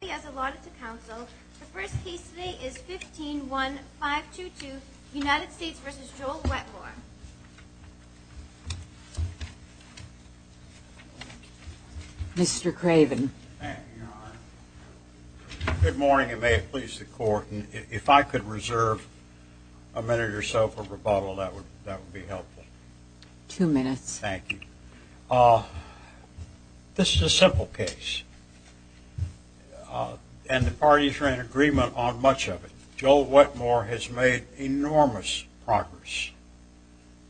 He has allotted to counsel. The first case today is 15-1522, United States v. Joel Wetmore. Mr. Craven. Good morning and may it please the court. If I could reserve a minute or so for rebuttal, that would be helpful. Two minutes. Thank you. This is a simple case and the parties are in agreement on much of it. Joel Wetmore has made enormous progress.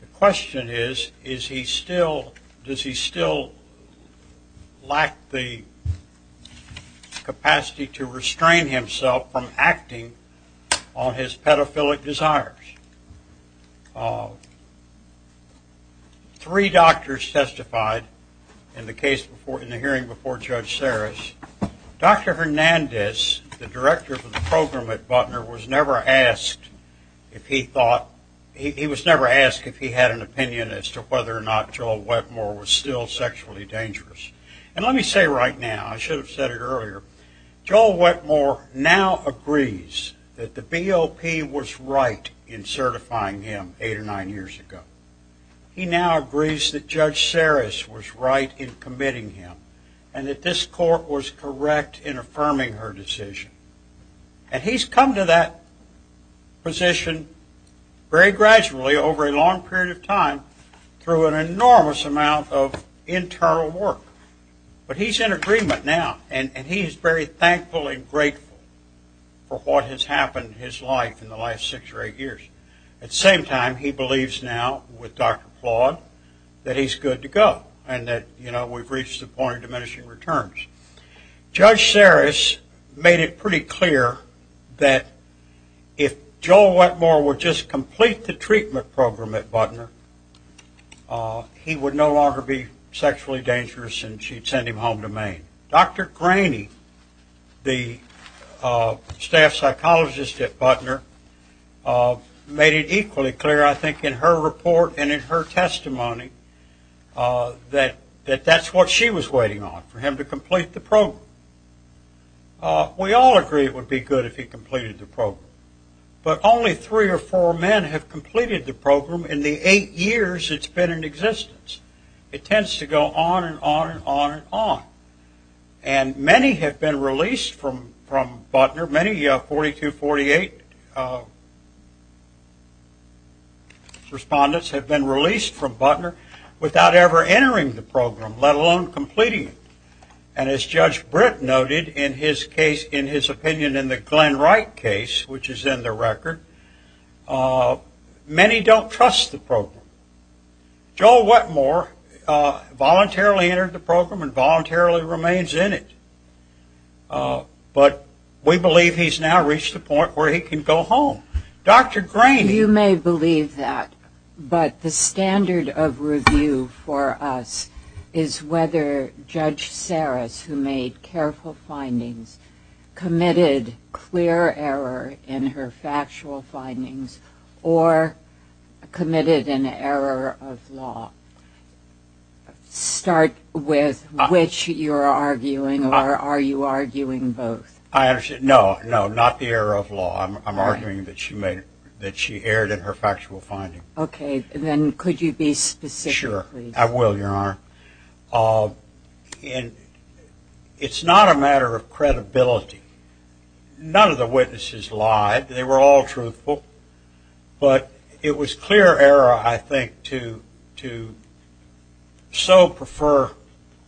The question is, does he still lack the capacity to restrain himself from acting on his pedophilic desires? Three doctors testified in the hearing before Judge Sarris. Dr. Hernandez, the director of the program at Butner, was never asked if he had an opinion as to whether or not Joel Wetmore was still sexually dangerous. And let me say right now, I should have said it earlier, Joel Wetmore now agrees that the BOP was right in certifying him eight or nine years ago. He now agrees that Judge Sarris was right in committing him and that this court was correct in affirming her decision. And he's come to that position very gradually over a long period of time through an enormous amount of internal work. But he's in agreement now and he's very thankful and grateful for what has happened in his life in the last six or eight years. At the same time, he believes now with Dr. Plod that he's good to go and that we've reached the point of diminishing returns. Judge Sarris made it pretty clear that if Joel Wetmore would just complete the treatment program at Butner, he would no longer be sexually dangerous and she'd send him home to Maine. Dr. Graney, the staff psychologist at Butner, made it equally clear I think in her report and in her testimony that that's what she was waiting on, for him to complete the program. We all agree it would be good if he completed the program, but only three or four men have completed the program in the eight years it's been in existence. It tends to go on and on and on and on. And many have been released from Butner, many 4248 respondents have been released from Butner without ever entering the program, let alone completing it. And as Judge Britt noted in his opinion in the Glenn Wright case, which is in the record, many don't trust the program. Joel Wetmore voluntarily entered the program and voluntarily remains in it, but we believe he's now reached the point where he can go home. You may believe that, but the standard of review for us is whether Judge Sarris, who made careful findings, committed clear error in her factual findings or committed an error of law. Start with which you're arguing or are you arguing both? No, no, not the error of law, I'm arguing that she erred in her factual findings. Okay, then could you be specific? Sure, I will, Your Honor. It's not a matter of credibility. None of the witnesses lied, they were all truthful. But it was clear error, I think, to so prefer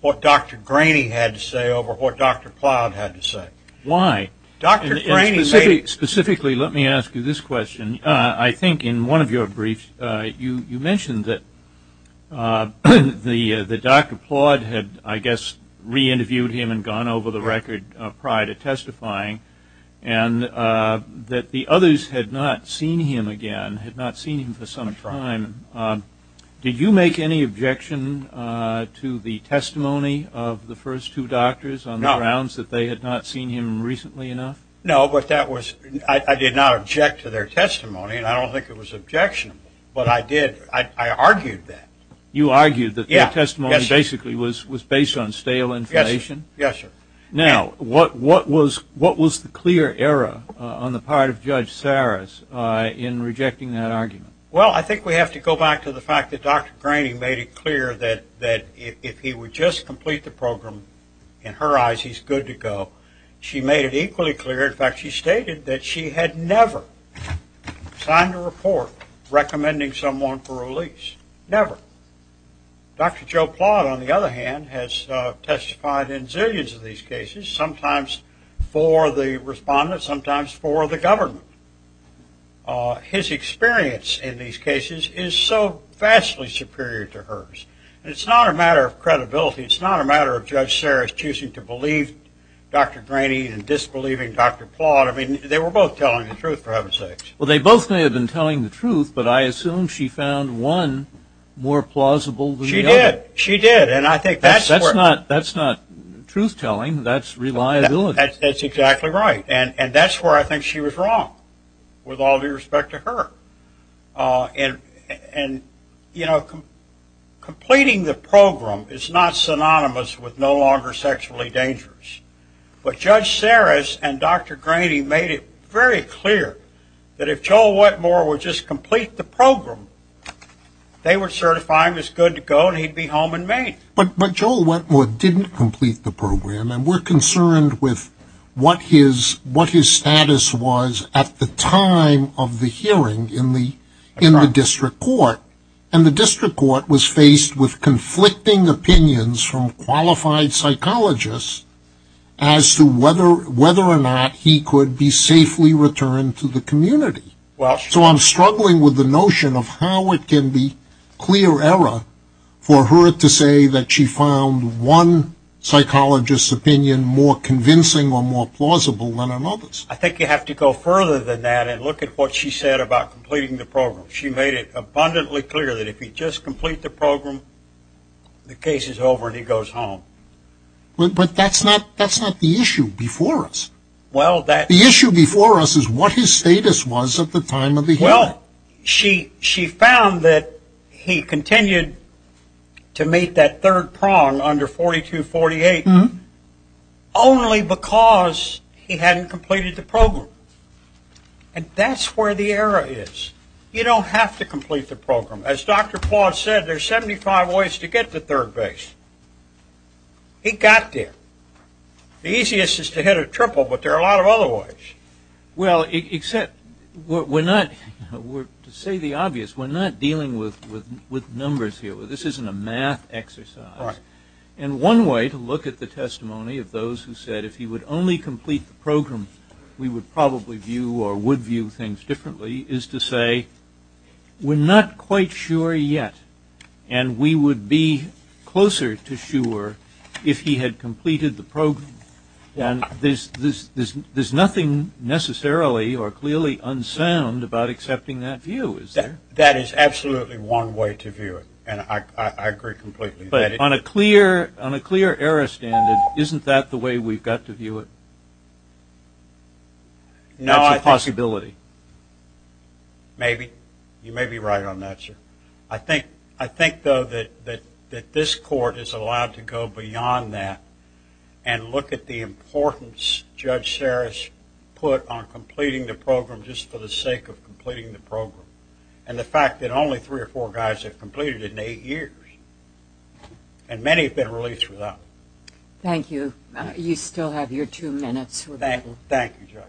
what Dr. Graney had to say over what Dr. Plowd had to say. Why? Specifically, let me ask you this question. I think in one of your briefs you mentioned that Dr. Plowd had, I guess, re-interviewed him and gone over the record prior to testifying, and that the others had not seen him again, had not seen him for some time. Did you make any objection to the testimony of the first two doctors on the grounds that they had not seen him recently enough? No, but that was, I did not object to their testimony, and I don't think it was objectionable, but I did, I argued that. You argued that their testimony basically was based on stale information? Yes, sir. Now, what was the clear error on the part of Judge Saras in rejecting that argument? Well, I think we have to go back to the fact that Dr. Graney made it clear that if he would just complete the program, in her eyes he's good to go. She made it equally clear, in fact, she stated that she had never signed a report recommending someone for release. Never. Dr. Joe Plowd, on the other hand, has testified in zillions of these cases, sometimes for the respondents, sometimes for the government. His experience in these cases is so vastly superior to hers. It's not a matter of credibility. It's not a matter of Judge Saras choosing to believe Dr. Graney and disbelieving Dr. Plowd. I mean, they were both telling the truth, for heaven's sakes. Well, they both may have been telling the truth, but I assume she found one more plausible than the other. She did. She did, and I think that's where. That's not truth-telling. That's reliability. That's exactly right, and that's where I think she was wrong, with all due respect to her. And, you know, completing the program is not synonymous with no longer sexually dangerous. But Judge Saras and Dr. Graney made it very clear that if Joel Wentmore would just complete the program, they would certify him as good to go and he'd be home in Maine. But Joel Wentmore didn't complete the program, and we're concerned with what his status was at the time of the hearing in the district court. And the district court was faced with conflicting opinions from qualified psychologists as to whether or not he could be safely returned to the community. So I'm struggling with the notion of how it can be clear error for her to say that she found one psychologist's opinion more convincing or more plausible than another's. I think you have to go further than that and look at what she said about completing the program. She made it abundantly clear that if he'd just complete the program, the case is over and he goes home. But that's not the issue before us. The issue before us is what his status was at the time of the hearing. Well, she found that he continued to meet that third prong under 4248 only because he hadn't completed the program. And that's where the error is. You don't have to complete the program. As Dr. Plawd said, there's 75 ways to get to third base. He got there. The easiest is to hit a triple, but there are a lot of other ways. Well, except to say the obvious, we're not dealing with numbers here. This isn't a math exercise. And one way to look at the testimony of those who said if he would only complete the program, we would probably view or would view things differently is to say we're not quite sure yet. And we would be closer to sure if he had completed the program. And there's nothing necessarily or clearly unsound about accepting that view, is there? That is absolutely one way to view it, and I agree completely. But on a clear error standard, isn't that the way we've got to view it? That's a possibility. Maybe. You may be right on that, sir. I think, though, that this court is allowed to go beyond that and look at the importance Judge Sarris put on completing the program just for the sake of completing the program, and the fact that only three or four guys have completed it in eight years, and many have been released without it. Thank you. You still have your two minutes. Thank you, Judge.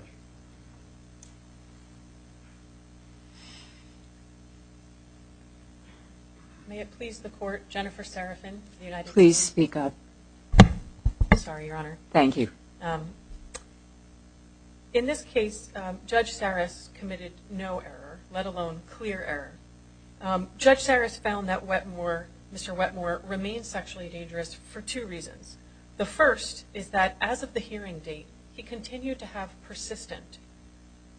May it please the Court, Jennifer Serafin of the United States. Please speak up. Sorry, Your Honor. Thank you. In this case, Judge Sarris committed no error, let alone clear error. Judge Sarris found that Mr. Wetmore remained sexually dangerous for two reasons. The first is that as of the hearing date, he continued to have persistent,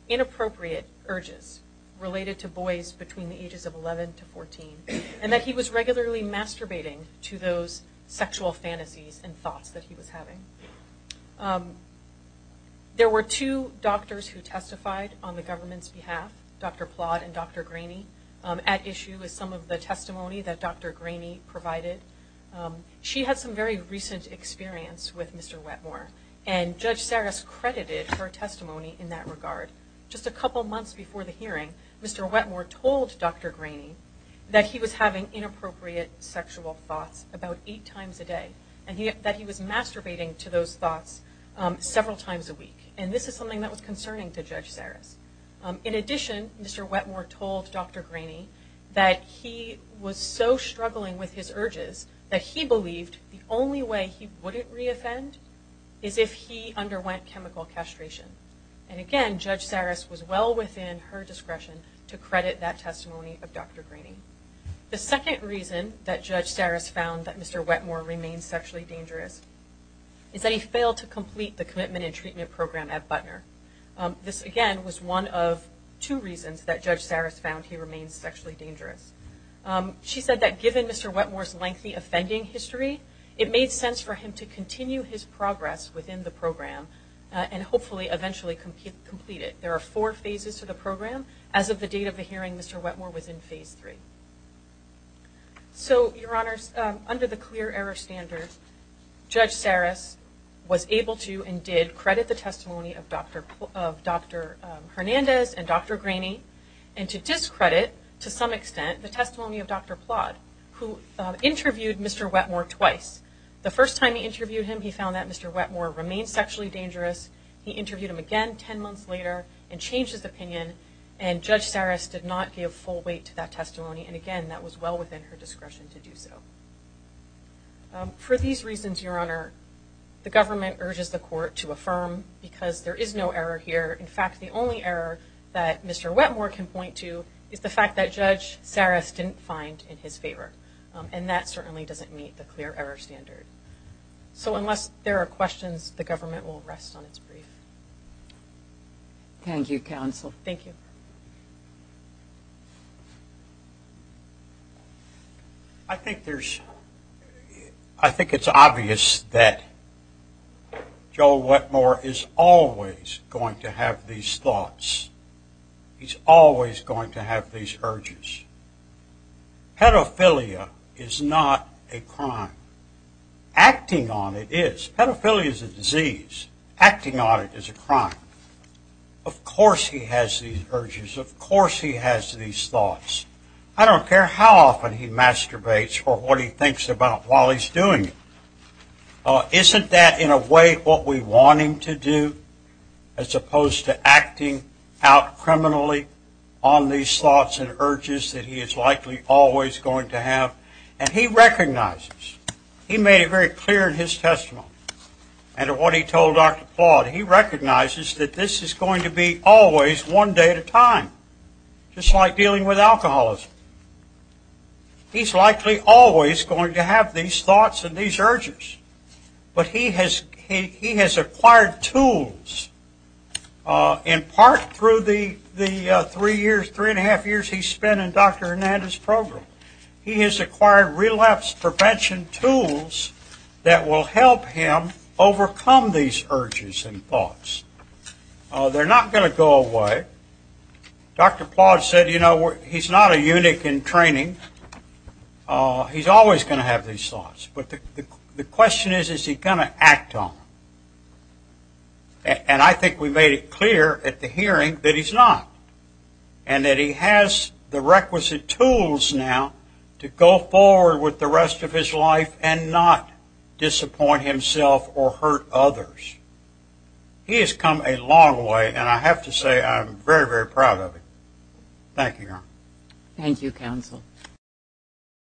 inappropriate urges related to boys between the ages of 11 to 14, and that he was regularly masturbating to those sexual fantasies and thoughts that he was having. There were two doctors who testified on the government's behalf, Dr. Plott and Dr. Graney, at issue with some of the testimony that Dr. Graney provided. She had some very recent experience with Mr. Wetmore, and Judge Sarris credited her testimony in that regard. Just a couple months before the hearing, Mr. Wetmore told Dr. Graney that he was having inappropriate sexual thoughts about eight times a day, and that he was masturbating to those thoughts several times a week. And this is something that was concerning to Judge Sarris. In addition, Mr. Wetmore told Dr. Graney that he was so struggling with his urges that he believed the only way he wouldn't re-offend is if he underwent chemical castration. And again, Judge Sarris was well within her discretion to credit that testimony of Dr. Graney. The second reason that Judge Sarris found that Mr. Wetmore remained sexually dangerous is that he failed to complete the commitment and treatment program at Butner. This, again, was one of two reasons that Judge Sarris found he remained sexually dangerous. She said that given Mr. Wetmore's lengthy offending history, it made sense for him to continue his progress within the program and hopefully eventually complete it. There are four phases to the program. As of the date of the hearing, Mr. Wetmore was in phase three. So, Your Honors, under the clear error standard, Judge Sarris was able to and did credit the testimony of Dr. Hernandez and Dr. Graney, and to discredit, to some extent, the testimony of Dr. Plodd, who interviewed Mr. Wetmore twice. The first time he interviewed him, he found that Mr. Wetmore remained sexually dangerous. He interviewed him again ten months later and changed his opinion, and Judge Sarris did not give full weight to that testimony. And again, that was well within her discretion to do so. For these reasons, Your Honor, the government urges the court to affirm, because there is no error here. In fact, the only error that Mr. Wetmore can point to is the fact that Judge Sarris didn't find in his favor, and that certainly doesn't meet the clear error standard. So unless there are questions, the government will rest on its brief. Thank you, counsel. Thank you. I think it's obvious that Joe Wetmore is always going to have these thoughts. He's always going to have these urges. Pedophilia is not a crime. Acting on it is. Pedophilia is a disease. Acting on it is a crime. Of course he has these urges. Of course he has these thoughts. I don't care how often he masturbates or what he thinks about while he's doing it. Isn't that in a way what we want him to do, as opposed to acting out criminally on these thoughts and urges that he is likely always going to have? And he recognizes, he made it very clear in his testimony, and in what he told Dr. Claude, he recognizes that this is going to be always one day at a time, just like dealing with alcoholism. He's likely always going to have these thoughts and these urges, but he has acquired tools in part through the three and a half years he spent in Dr. Hernandez's program. He has acquired relapse prevention tools that will help him overcome these urges and thoughts. They're not going to go away. Dr. Claude said, you know, he's not a eunuch in training. He's always going to have these thoughts. But the question is, is he going to act on them? And I think we made it clear at the hearing that he's not and that he has the requisite tools now to go forward with the rest of his life and not disappoint himself or hurt others. He has come a long way, and I have to say I'm very, very proud of him. Thank you, Your Honor. Thank you, counsel.